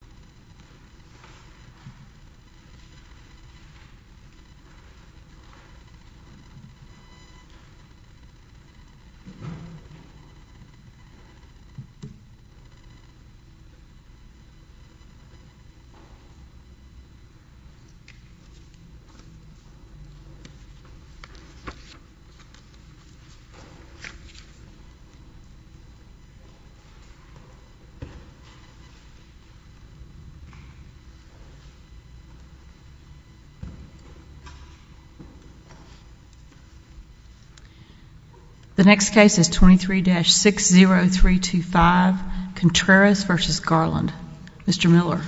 Garland Contreras v. Garland The next case is 23-60325 Contreras v. Garland. Mr. Miller.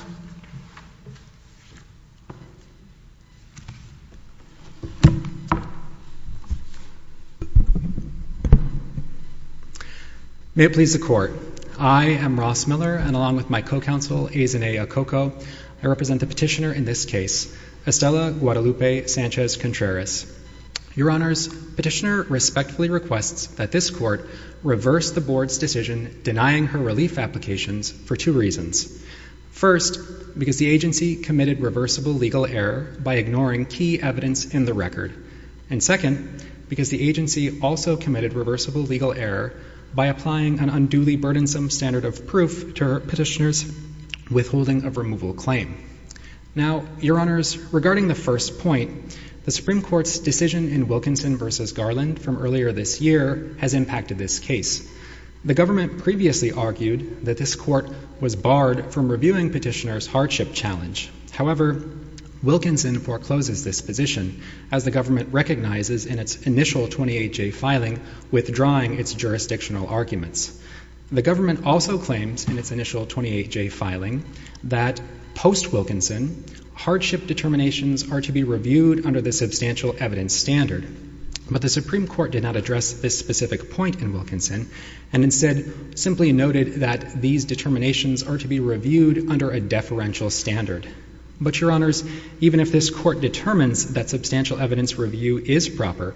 May it please the Court. I am Ross Miller, and along with my co-counsel, Ezenay Okoko, I represent the petitioner in this case, Estela Guadalupe Sanchez Contreras. Your Honors, Petitioner respectfully requests that this Court reverse the Board's decision denying her relief applications for two reasons. First, because the agency committed reversible legal error by ignoring key evidence in the record. And second, because the agency also committed reversible legal error by applying an unduly burdensome standard of proof to her petitioner's withholding of removal claim. Now, Your Honors, regarding the first point, the Supreme Court's decision in Wilkinson v. Garland from earlier this year has impacted this case. The government previously argued that this Court was barred from reviewing petitioner's hardship challenge. However, Wilkinson forecloses this position, as the government recognizes in its initial 28-J filing withdrawing its jurisdictional arguments. The government also claims in its initial 28-J filing that, post-Wilkinson, hardship determinations are to be reviewed under the substantial evidence standard. But the Supreme Court did not address this specific point in Wilkinson, and instead simply noted that these determinations are to be reviewed under a deferential standard. But, Your Honors, even if this Court determines that substantial evidence review is proper,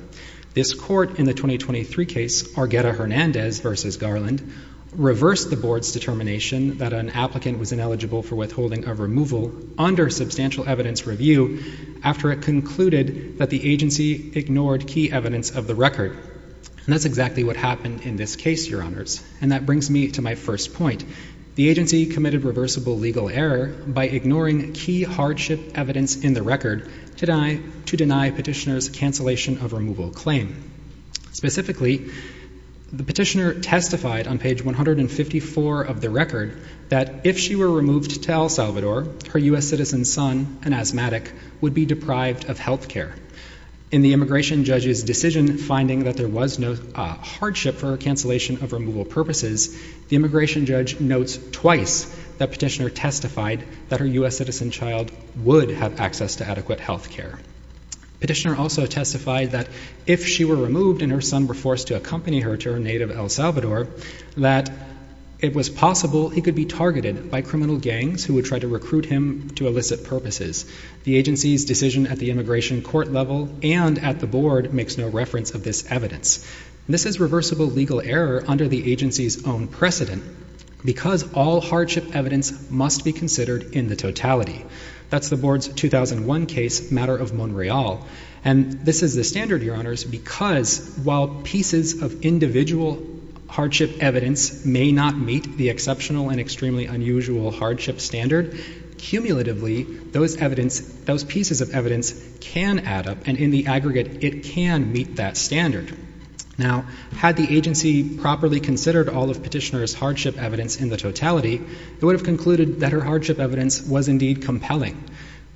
this Court in the 2023 case, Argueta-Hernandez v. Garland, reversed the Board's determination that an applicant was ineligible for withholding of removal under substantial evidence review after it concluded that the agency ignored key evidence of the record. And that's exactly what happened in this case, Your Honors. And that brings me to my first point. The agency committed reversible legal error by ignoring key hardship evidence in the record to deny petitioner's cancellation of removal claim. Specifically, the petitioner testified on page 154 of the record that if she were removed to El Salvador, her U.S. citizen son, an asthmatic, would be deprived of health care. In the immigration judge's decision finding that there was no hardship for cancellation of removal purposes, the immigration judge notes twice that petitioner testified that her U.S. citizen child would have access to adequate health care. Petitioner also testified that if she were removed and her son were forced to accompany her to her native El Salvador, that it was possible he could be targeted by criminal gangs who would try to recruit him to illicit purposes. The agency's decision at the immigration court level and at the Board makes no reference of this evidence. This is reversible legal error under the agency's own precedent because all hardship evidence must be considered in the totality. That's the Board's 2001 case, Matter of Monreal. And this is the standard, Your Honors, because while pieces of individual hardship evidence may not meet the exceptional and extremely unusual hardship standard, cumulatively, those pieces of evidence can add up and in the aggregate it can meet that standard. Now, had the agency properly considered all of petitioner's hardship evidence in the totality, it would have concluded that her hardship evidence was indeed compelling.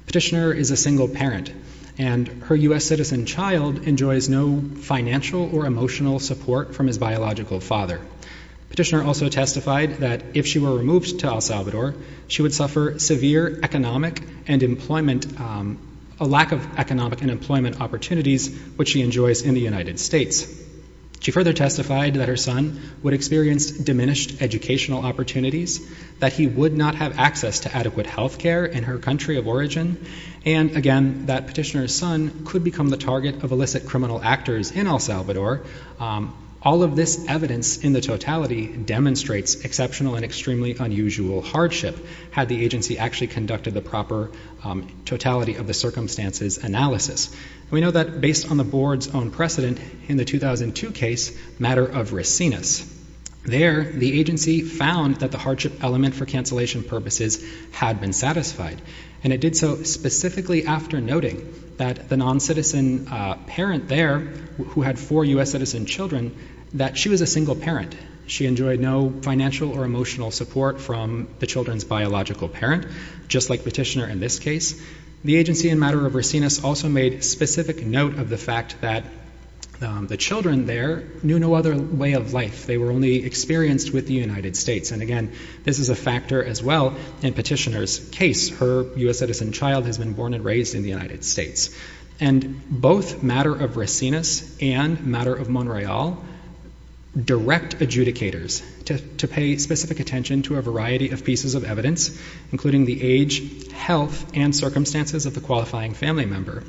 Petitioner is a single parent and her U.S. citizen child enjoys no financial or emotional support from his biological father. Petitioner also testified that if she were removed to El Salvador, she would suffer severe economic and employment, a lack of economic and employment opportunities, which she enjoys in the United States. She further testified that her son would experience diminished educational opportunities, that he would not have access to adequate health care in her country of origin, and again, that petitioner's son could become the target of illicit criminal actors in El Salvador. All of this evidence in the totality demonstrates exceptional and extremely unusual hardship had the agency actually conducted the proper totality of the circumstances analysis. We know that based on the Board's own precedent in the 2002 case, Matter of Resinas, there the agency found that the hardship element for cancellation purposes had been satisfied. And it did so specifically after noting that the non-citizen parent there who had four U.S. citizen children, that she was a single parent. She enjoyed no financial or emotional support from the children's biological parent, just like petitioner in this case. The agency in Matter of Resinas also made specific note of the fact that the children there knew no other way of life. They were only experienced with the United States. And again, this is a factor as well in petitioner's case. Her U.S. citizen child has been born and raised in the United States. And both Matter of Resinas and Matter of Montreal direct adjudicators to pay specific attention to a variety of pieces of evidence, including the age, health, and circumstances of the qualifying family member.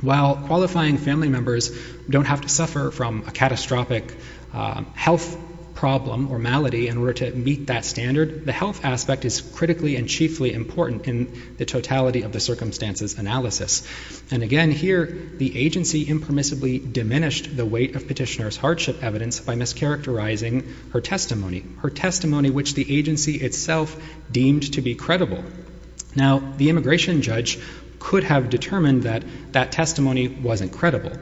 While qualifying family members don't have to suffer from a catastrophic health problem or malady in order to meet that standard, the health aspect is critically and chiefly important in the totality of the circumstances analysis. And again, here, the agency impermissibly diminished the weight of petitioner's hardship evidence by mischaracterizing her testimony, her testimony which the agency itself deemed to be credible. Now, the immigration judge could have determined that that testimony wasn't credible.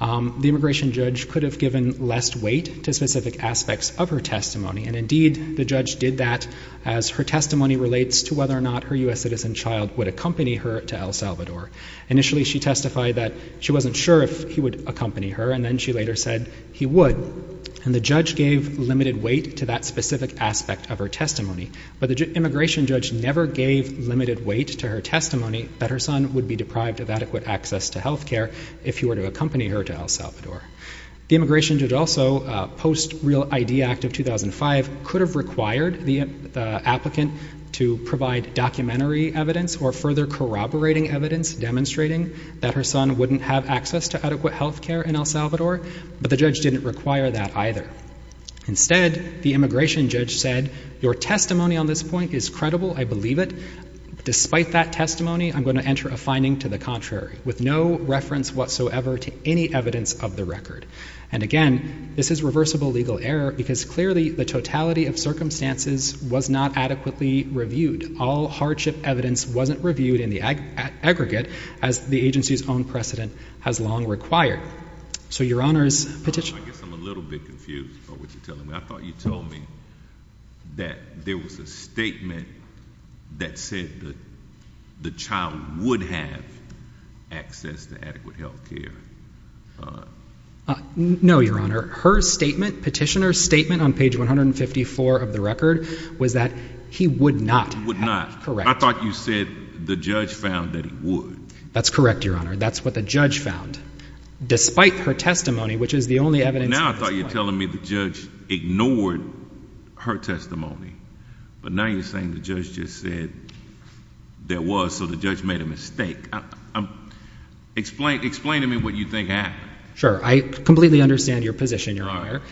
The immigration judge could have given less weight to specific aspects of her testimony. And indeed, the judge did that as her testimony relates to whether or not her U.S. citizen child would accompany her to El Salvador. Initially, she testified that she wasn't sure if he would accompany her. And then she later said he would. And the judge gave limited weight to that specific aspect of her testimony. But the immigration judge never gave limited weight to her testimony that her son would be deprived of adequate access to health care if he were to accompany her to El Salvador. The immigration judge also, post Real ID Act of 2005, could have required the applicant to provide documentary evidence or further corroborating evidence demonstrating that her son wouldn't have access to adequate health care in El Salvador. But the judge didn't require that either. Instead, the immigration judge said, your testimony on this point is credible. I believe it. Despite that testimony, I'm going to enter a finding to the contrary with no reference whatsoever to any evidence of the record. And again, this is reversible legal error, because clearly the totality of circumstances was not adequately reviewed. All hardship evidence wasn't reviewed in the aggregate, as the agency's own precedent has long required. So your Honor's petition— I guess I'm a little bit confused by what you're telling me. I thought you told me that there was a statement that said that the child would have access to adequate health care. No, your Honor. Her statement, petitioner's statement on page 154 of the record, was that he would not have. Would not. Correct. I thought you said the judge found that he would. That's correct, your Honor. That's what the judge found. Despite her testimony, which is the only evidence— But now I thought you were telling me the judge ignored her testimony. But now you're saying the judge just said there was, so the judge made a mistake. Explain to me what you think happened. Sure. I completely understand your position, your Honor.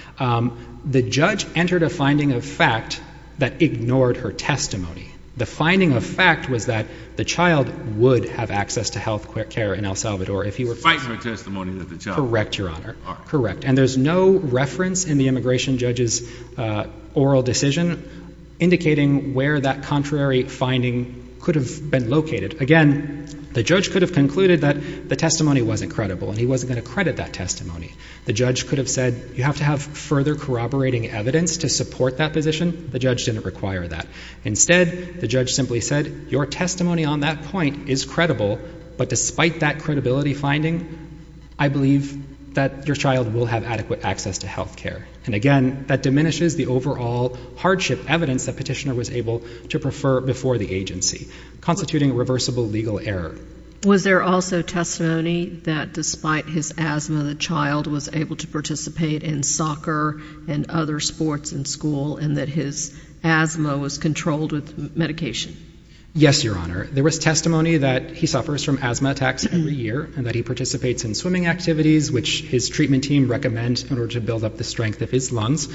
The judge entered a finding of fact that ignored her testimony. The finding of fact was that the child would have access to health care in El Salvador if he were— Fighting her testimony that the child— Correct, your Honor. Correct. And there's no reference in the immigration judge's oral decision indicating where that contrary finding could have been located. Again, the judge could have concluded that the testimony wasn't credible and he wasn't going to credit that testimony. The judge could have said, you have to have further corroborating evidence to support that position. The judge didn't require that. Instead, the judge simply said, your testimony on that point is credible, but despite that credibility finding, I believe that your child will have adequate access to health care. And again, that diminishes the overall hardship evidence that Petitioner was able to prefer before the agency, constituting a reversible legal error. Was there also testimony that despite his asthma, the child was able to participate in soccer and other sports in school and that his asthma was controlled with medication? Yes, your Honor. There was testimony that he suffers from asthma attacks every year and that he participates in swimming activities, which his treatment team recommends in order to build up the strength of his lungs.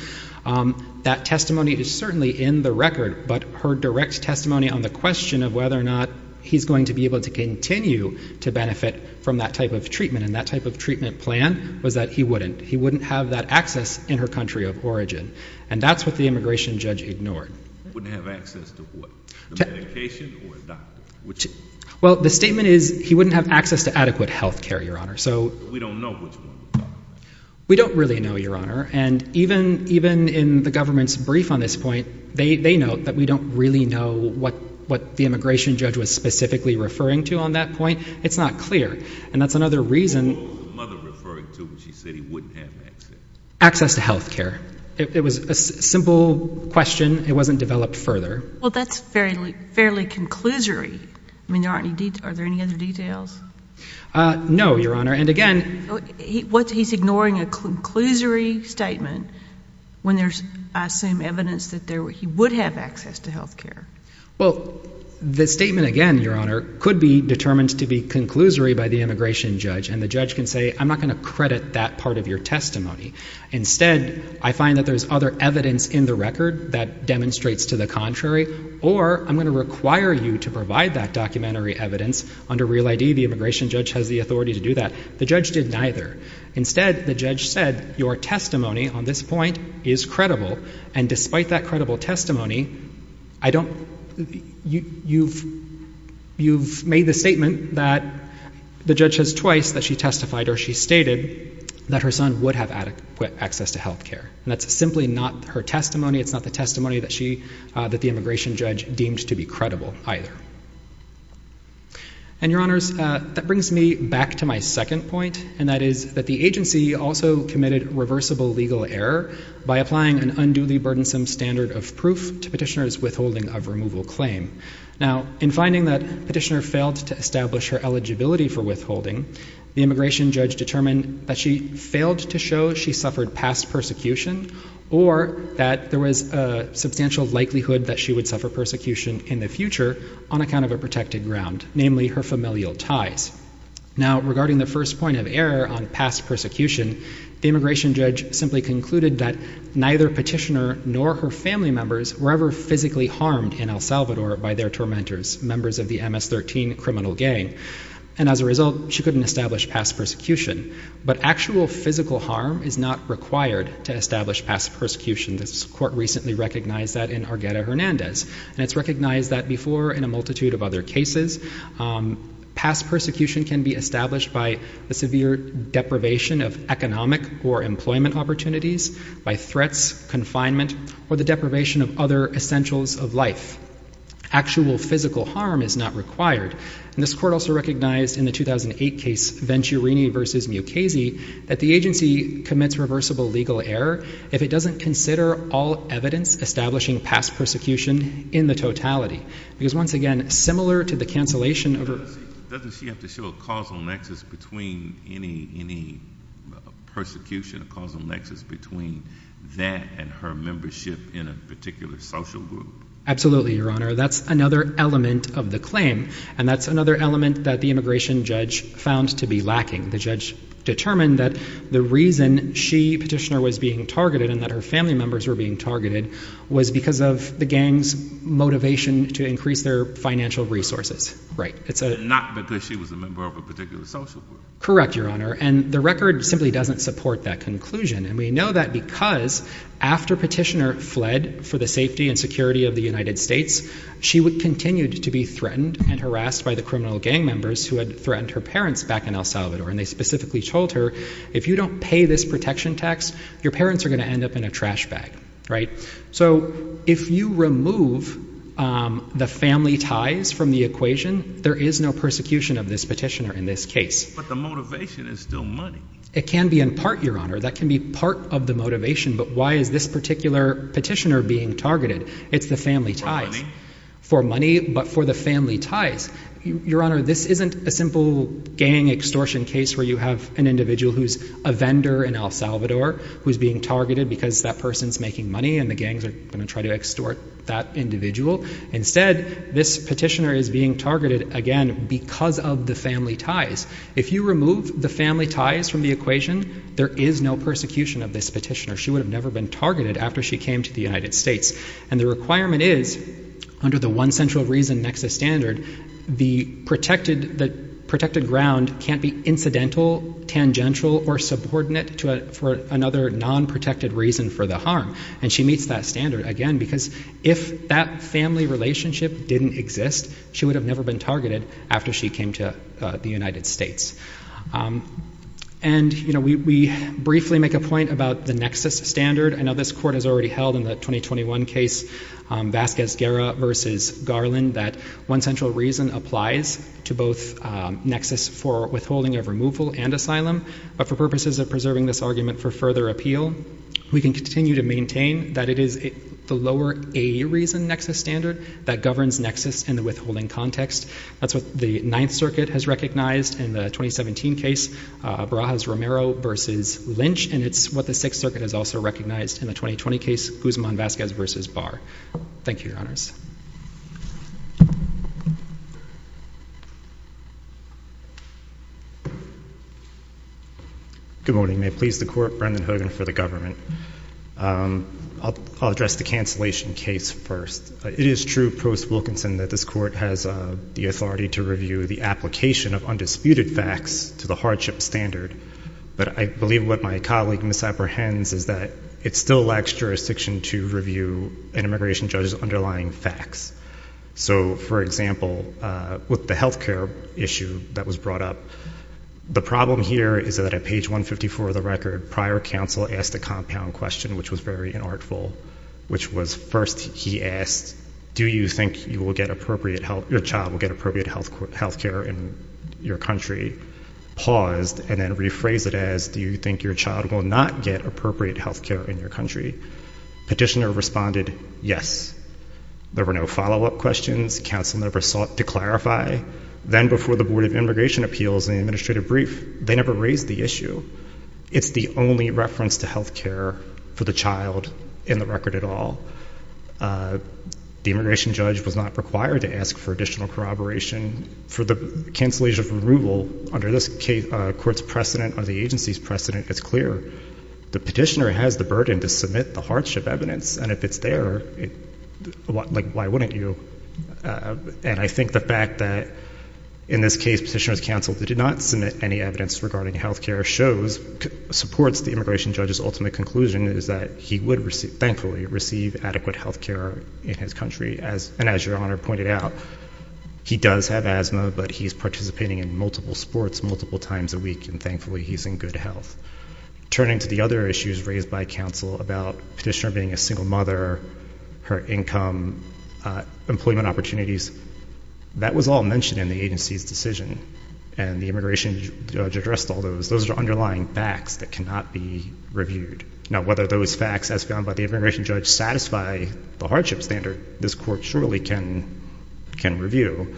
That testimony is certainly in the record, but her direct testimony on the question of whether or not he's going to be able to continue to benefit from that type of treatment and that type of treatment plan was that he wouldn't. He wouldn't have that access in her country of origin. And that's what the immigration judge ignored. Wouldn't have access to what? Medication or a doctor? Well, the statement is he wouldn't have access to adequate health care, your Honor. We don't know which one. We don't really know, your Honor. And even in the government's brief on this point, they note that we don't really know what the immigration judge was specifically referring to on that point. It's not clear. And that's another reason. What was the mother referring to when she said he wouldn't have access? Access to health care. It was a simple question. It wasn't developed further. Well, that's fairly conclusory. I mean, are there any other details? No, your Honor. And again... He's ignoring a conclusory statement when there's, I assume, evidence that he would have access to health care. Well, the statement again, your Honor, could be determined to be conclusory by the immigration judge. And the judge can say, I'm not going to credit that part of your testimony. Instead, I find that there's other evidence in the record that demonstrates to the contrary, or I'm going to require you to provide that documentary evidence. Under Real ID, the immigration judge has the authority to do that. The judge did neither. Instead, the judge said, your testimony on this point is credible. And despite that credible advice that she testified or she stated, that her son would have adequate access to health care. And that's simply not her testimony. It's not the testimony that the immigration judge deemed to be credible either. And your Honors, that brings me back to my second point. And that is that the agency also committed reversible legal error by applying an unduly burdensome standard of proof to petitioner's withholding of removal claim. Now, in finding that petitioner failed to establish her eligibility for withholding, the immigration judge determined that she failed to show she suffered past persecution or that there was a substantial likelihood that she would suffer persecution in the future on account of a protected ground, namely her familial ties. Now, regarding the first point of error on past persecution, the immigration judge simply concluded that neither petitioner nor her family members were ever physically harmed in El Salvador by their tormentors, members of the MS-13 criminal gang. And as a result, she couldn't establish past persecution. But actual physical harm is not required to establish past persecution. This court recently recognized that in Argueta Hernandez. And it's recognized that before in a multitude of other cases, past persecution can be established by the severe deprivation of economic or employment opportunities, by threats, confinement, or the deprivation of other essentials of life. Actual physical harm is not required. And this court also recognized in the 2008 case Venturini v. Mukasey, that the agency commits reversible legal error if it doesn't consider all evidence establishing past persecution in the totality. Because once again, similar to the cancellation of her... Doesn't she have to show a causal nexus between any persecution, a causal nexus between that and her membership in a particular social group? Absolutely, Your Honor. That's another element of the claim. And that's another element that the immigration judge found to be lacking. The judge determined that the reason she, petitioner, was being targeted and that her family members were being targeted was because of the gang's motivation to increase their financial resources. And not because she was a member of a particular social group. Correct, Your Honor. And the record simply doesn't support that conclusion. And we know that because after petitioner fled for the safety and security of the United States, she would continue to be threatened and harassed by the criminal gang members who had threatened her parents back in El Salvador. And they specifically told her, if you don't pay this protection tax, your parents are going to end up in a trash bag. So if you remove the family ties from the equation, there is no persecution of this petitioner in this case. But the motivation is still money. It can be in part, Your Honor. That can be part of the motivation. But why is this particular petitioner being targeted? It's the family ties. For money? For money, but for the family ties. Your Honor, this isn't a simple gang extortion case where you have an individual who's a vendor in El Salvador who's being targeted because that person's making money and the gangs are going to try to extort that individual. Instead, this petitioner is being targeted, again, because of the family ties. If you remove the family ties from the equation, there is no persecution of this petitioner. She would have never been targeted after she came to the United States. And the requirement is, under the one central reason nexus standard, the protected ground can't be incidental, tangential, or subordinate for another non-protected reason for the harm. And she meets that standard, again, because if that family relationship didn't exist, she would have never been targeted after she came to the United States. And we briefly make a point about the nexus standard. I know this Court has already held in the 2021 case, Vasquez-Guerra v. Garland, that one central reason applies to both nexus for withholding of removal and asylum. But for purposes of preserving this argument for further appeal, we can continue to maintain that it is the lower a reason nexus standard that governs nexus in the withholding context. That's what the Ninth Circuit has recognized in the 2017 case, Barajas-Romero v. Lynch. And it's what the Sixth Circuit has also recognized in the 2020 case, Guzman-Vasquez v. Barr. Thank you, Your Honors. Good morning. May it please the Court, Brendan Hogan for the government. I'll address the cancellation case first. It is true, Provost Wilkinson, that this Court has the authority to review the application of undisputed facts to the hardship standard. But I believe what my colleague misapprehends is that it still lacks jurisdiction to review an immigration judge's underlying facts. So, for example, with the health care issue that was brought up, the problem here is that at page 154 of the record, prior counsel asked a compound question, which was very inartful, which was first he asked, do you think your child will get appropriate health care in your country, paused, and then rephrased it as, do you think your child will not get appropriate health care in your country? Petitioner responded, yes. There were no follow-up questions. Counsel never sought to clarify. Then, before the Board of Immigration Appeals and the administrative brief, they never raised the issue. It's the only reference to health care for the child in the record at all. The immigration judge was not required to ask for additional corroboration. For the cancellation of removal, under this court's precedent or the agency's precedent, it's clear the petitioner has the burden to submit the hardship evidence. And if it's there, like, why wouldn't you? And I think the fact that, in this case, Petitioner's counsel did not submit any evidence regarding health care supports the immigration judge's ultimate conclusion is that he would, thankfully, receive adequate health care in his country. And as Your Honor pointed out, he does have asthma, but he's participating in multiple sports multiple times a week, and thankfully, he's in good health. Turning to the other issues raised by counsel about Petitioner being a single mother, her income, employment opportunities, that was all mentioned in the agency's decision. And the immigration judge addressed all those. Those are underlying facts that cannot be reviewed. Now, whether those facts, as found by the immigration judge, satisfy the hardship standard, this court surely can review.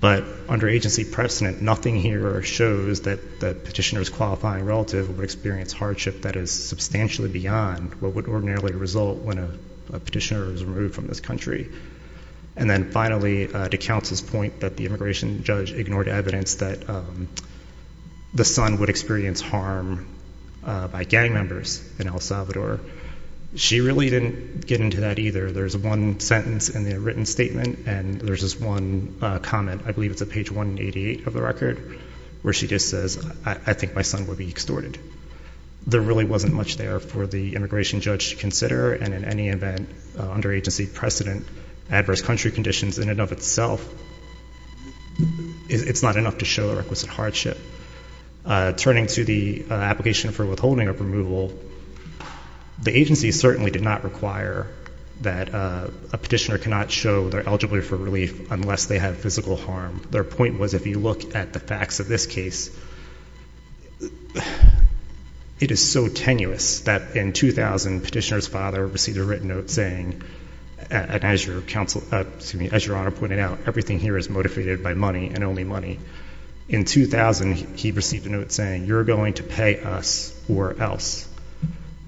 But under agency precedent, nothing here shows that Petitioner's qualifying relative would experience hardship that is substantially beyond what would ordinarily result when a petitioner was removed from this country. And then finally, to counsel's point that the immigration judge ignored evidence that the son would experience harm by gang members in El Salvador, she really didn't get into that either. There's one sentence in the written statement, and there's this one comment, I believe it's at page 188 of the record, where she just says, I think my son would be extorted. There really wasn't much there for the immigration judge to consider, and in any event, under agency precedent, adverse country conditions in and of itself, it's not enough to show the requisite hardship. Turning to the application for withholding of removal, the agency certainly did not require that a petitioner cannot show they're eligible for relief unless they have physical harm. Their point was, if you look at the facts of this case, it is so tenuous that in 2000, Petitioner's father received a written note saying, and as your Honor pointed out, everything here is motivated by money and only money. In 2000, he received a note saying, you're going to pay us or else.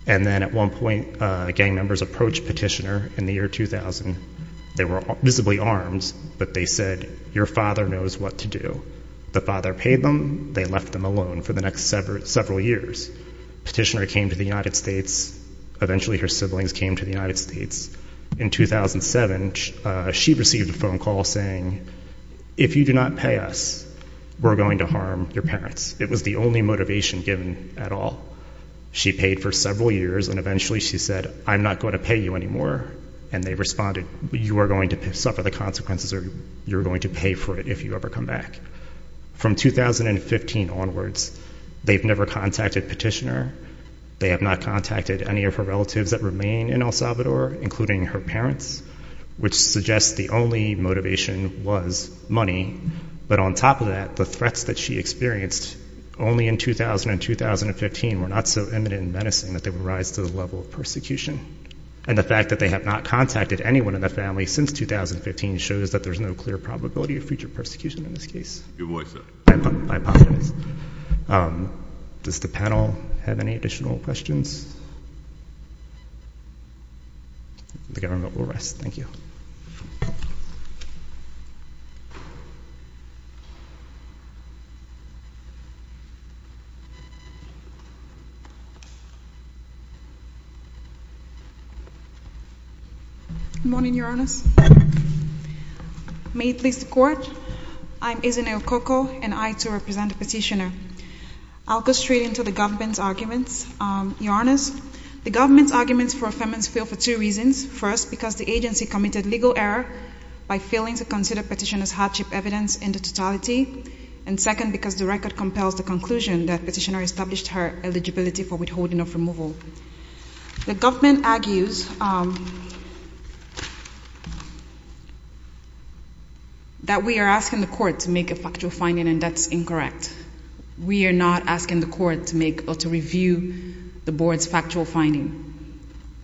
And then at one point, gang members approached Petitioner in the year 2000. They were visibly armed, but they said, your father knows what to do. The father paid them. They left them alone for the next several years. Petitioner came to the United States. Eventually, her siblings came to the United States. In 2007, she received a phone call saying, if you do not pay us, we're going to harm your parents. It was the only motivation given at all. She paid for several years, and eventually she said, I'm not going to pay you anymore. And they responded, you are going to suffer the consequences or you're going to pay for it if you ever come back. From 2015 onwards, they've never contacted Petitioner. They have not contacted any of the relatives that remain in El Salvador, including her parents, which suggests the only motivation was money. But on top of that, the threats that she experienced only in 2000 and 2015 were not so imminent and menacing that they would rise to the level of persecution. And the fact that they have not contacted anyone in the family since 2015 shows that there's no clear probability of future persecution in this case. I apologize. Does the panel have any additional questions? The government will rest. Thank you. Good morning, Your Honors. May it please the Court, I'm Isenay Okoko, and I, too, represent Petitioner. I'll go straight into the government's arguments. Your Honors, the government's arguments for affirmance fail for two reasons. First, because the agency committed legal error by failing to consider Petitioner's hardship evidence in the totality. And second, because the record compels the conclusion that Petitioner established her eligibility for withholding of removal. The government argues that we are asking the Court to make a factual finding and that's incorrect. We are not asking the Court to make or to review the Board's factual finding.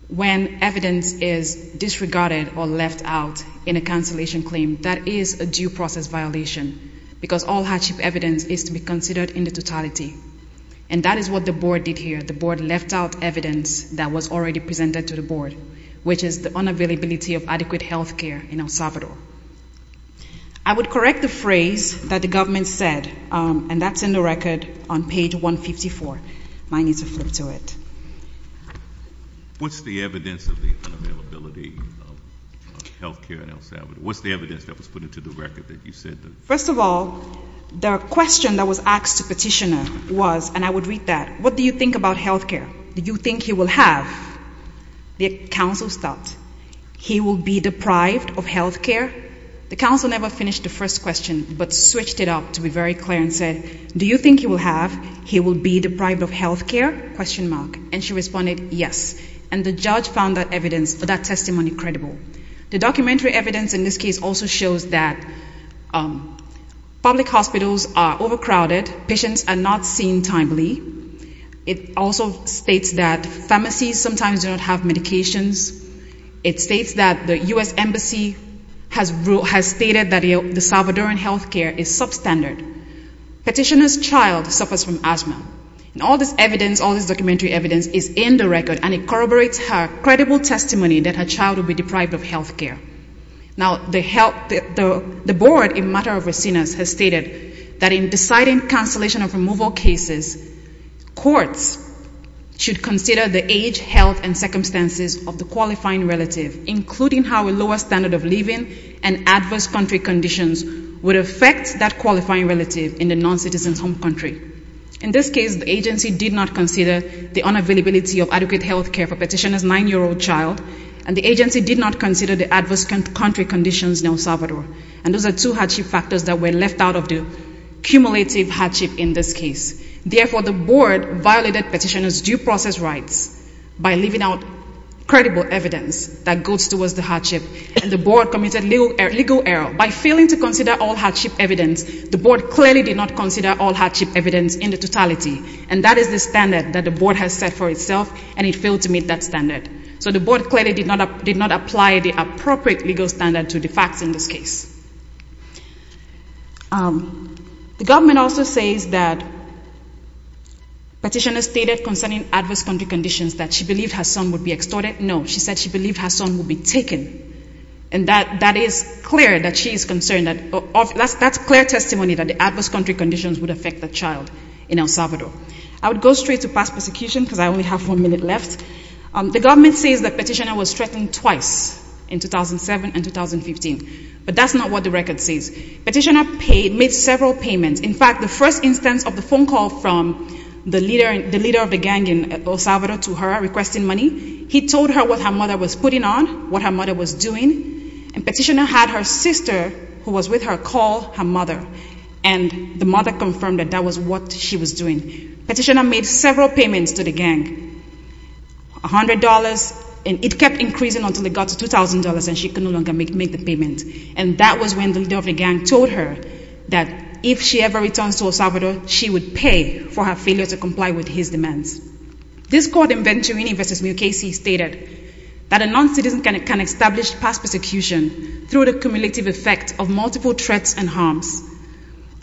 When evidence is disregarded or left out in a cancellation claim, that is a due process violation, because all hardship evidence is to be considered in the totality. And that is what the Board did here. The Board left out evidence that was already presented to the Board, which is the unavailability of adequate health care in El Salvador. I would correct the phrase that the government said, and that's in the record on page 154. Mine needs a flip to it. What's the evidence of the unavailability of health care in El Salvador? What's the evidence that was put into the record that you said? First of all, the question that was asked to Petitioner was, and I would read that, what do you think about health care? Do you think he will have, the counsel stopped, he will be deprived of health care? The counsel never finished the first question, but switched it up to be very clear and said, do you think he will have, he will be deprived of health care? And she responded, yes. And the judge found that evidence, that testimony credible. The documentary evidence in this case also shows that public hospitals are overcrowded, patients are not seen timely. It also states that pharmacies sometimes do not have medications. It states that the U.S. Embassy has stated that the Salvadoran health care is substandard. Petitioner's child suffers from asthma. And all this evidence, all this documentary evidence is in the record, and it corroborates her credible testimony that her child will be deprived of health care. Now the health, the board in Mater of Racinas has stated that in deciding cancellation of removal cases, courts should consider the age, health, and circumstances of the qualifying relative, including how a lower standard of living and adverse country conditions would affect that qualifying relative in the noncitizen's home country. In this case, the agency did not consider the unavailability of adequate health care for petitioner's 9-year-old child, and the agency did not consider the adverse country conditions in El Salvador. And those were left out of the cumulative hardship in this case. Therefore, the board violated petitioner's due process rights by leaving out credible evidence that goes towards the hardship, and the board committed legal error. By failing to consider all hardship evidence, the board clearly did not consider all hardship evidence in the totality. And that is the standard that the board has set for itself, and it failed to meet that standard. So the board clearly did not apply the appropriate legal standard to the facts in this case. The government also says that petitioner stated concerning adverse country conditions that she believed her son would be extorted. No, she said she believed her son would be taken. And that is clear that she is concerned. That's clear testimony that the adverse country conditions would affect the child in El Salvador. I would go straight to past persecution, because I only have one minute left. The government says that petitioner was threatened twice in 2007 and 2015, but that's not what the record says. Petitioner paid, made several payments. In fact, the first instance of the phone call from the leader of the gang in El Salvador to her requesting money, he told her what her mother was putting on, what her mother was doing, and petitioner had her sister who was with her call her mother, and the mother confirmed that that was what she was doing. Petitioner made several payments to the gang, $100, and it kept increasing until it got to $2,000, and she could no longer make the payment. And that was when the leader of the gang told her that if she ever returns to El Salvador, she would pay for her failure to comply with his demands. This court in Venturini v. Mukasey stated that a noncitizen can establish past persecution through the cumulative effect of multiple threats and harms.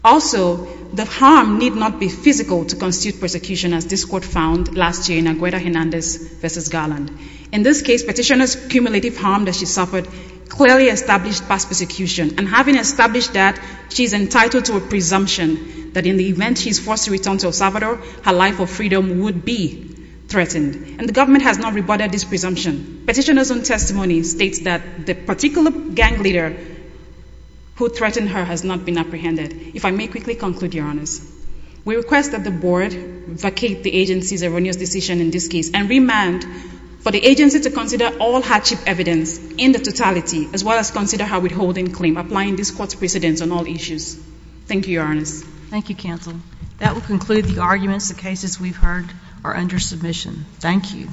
Also, the harm need not be physical to constitute persecution, as this court found last year in Agueda Hernandez v. Garland. In this case, petitioner's cumulative harm that she suffered clearly established past persecution, and having established that, she is entitled to a presumption that in the event she is forced to return to El Salvador, her life of freedom would be threatened. And the government has not rebutted this presumption. Petitioner's own testimony states that the particular gang leader who threatened her has not been apprehended. If I may quickly conclude, Your Honor, we request that the board vacate the agency's erroneous decision in this case and remand for the agency to consider all hardship evidence in the totality, as well as consider her withholding claim, applying this court's precedents on all issues. Thank you, Your Honor. Thank you, Counsel. That will conclude the arguments. The cases we've heard are under submission. Thank you.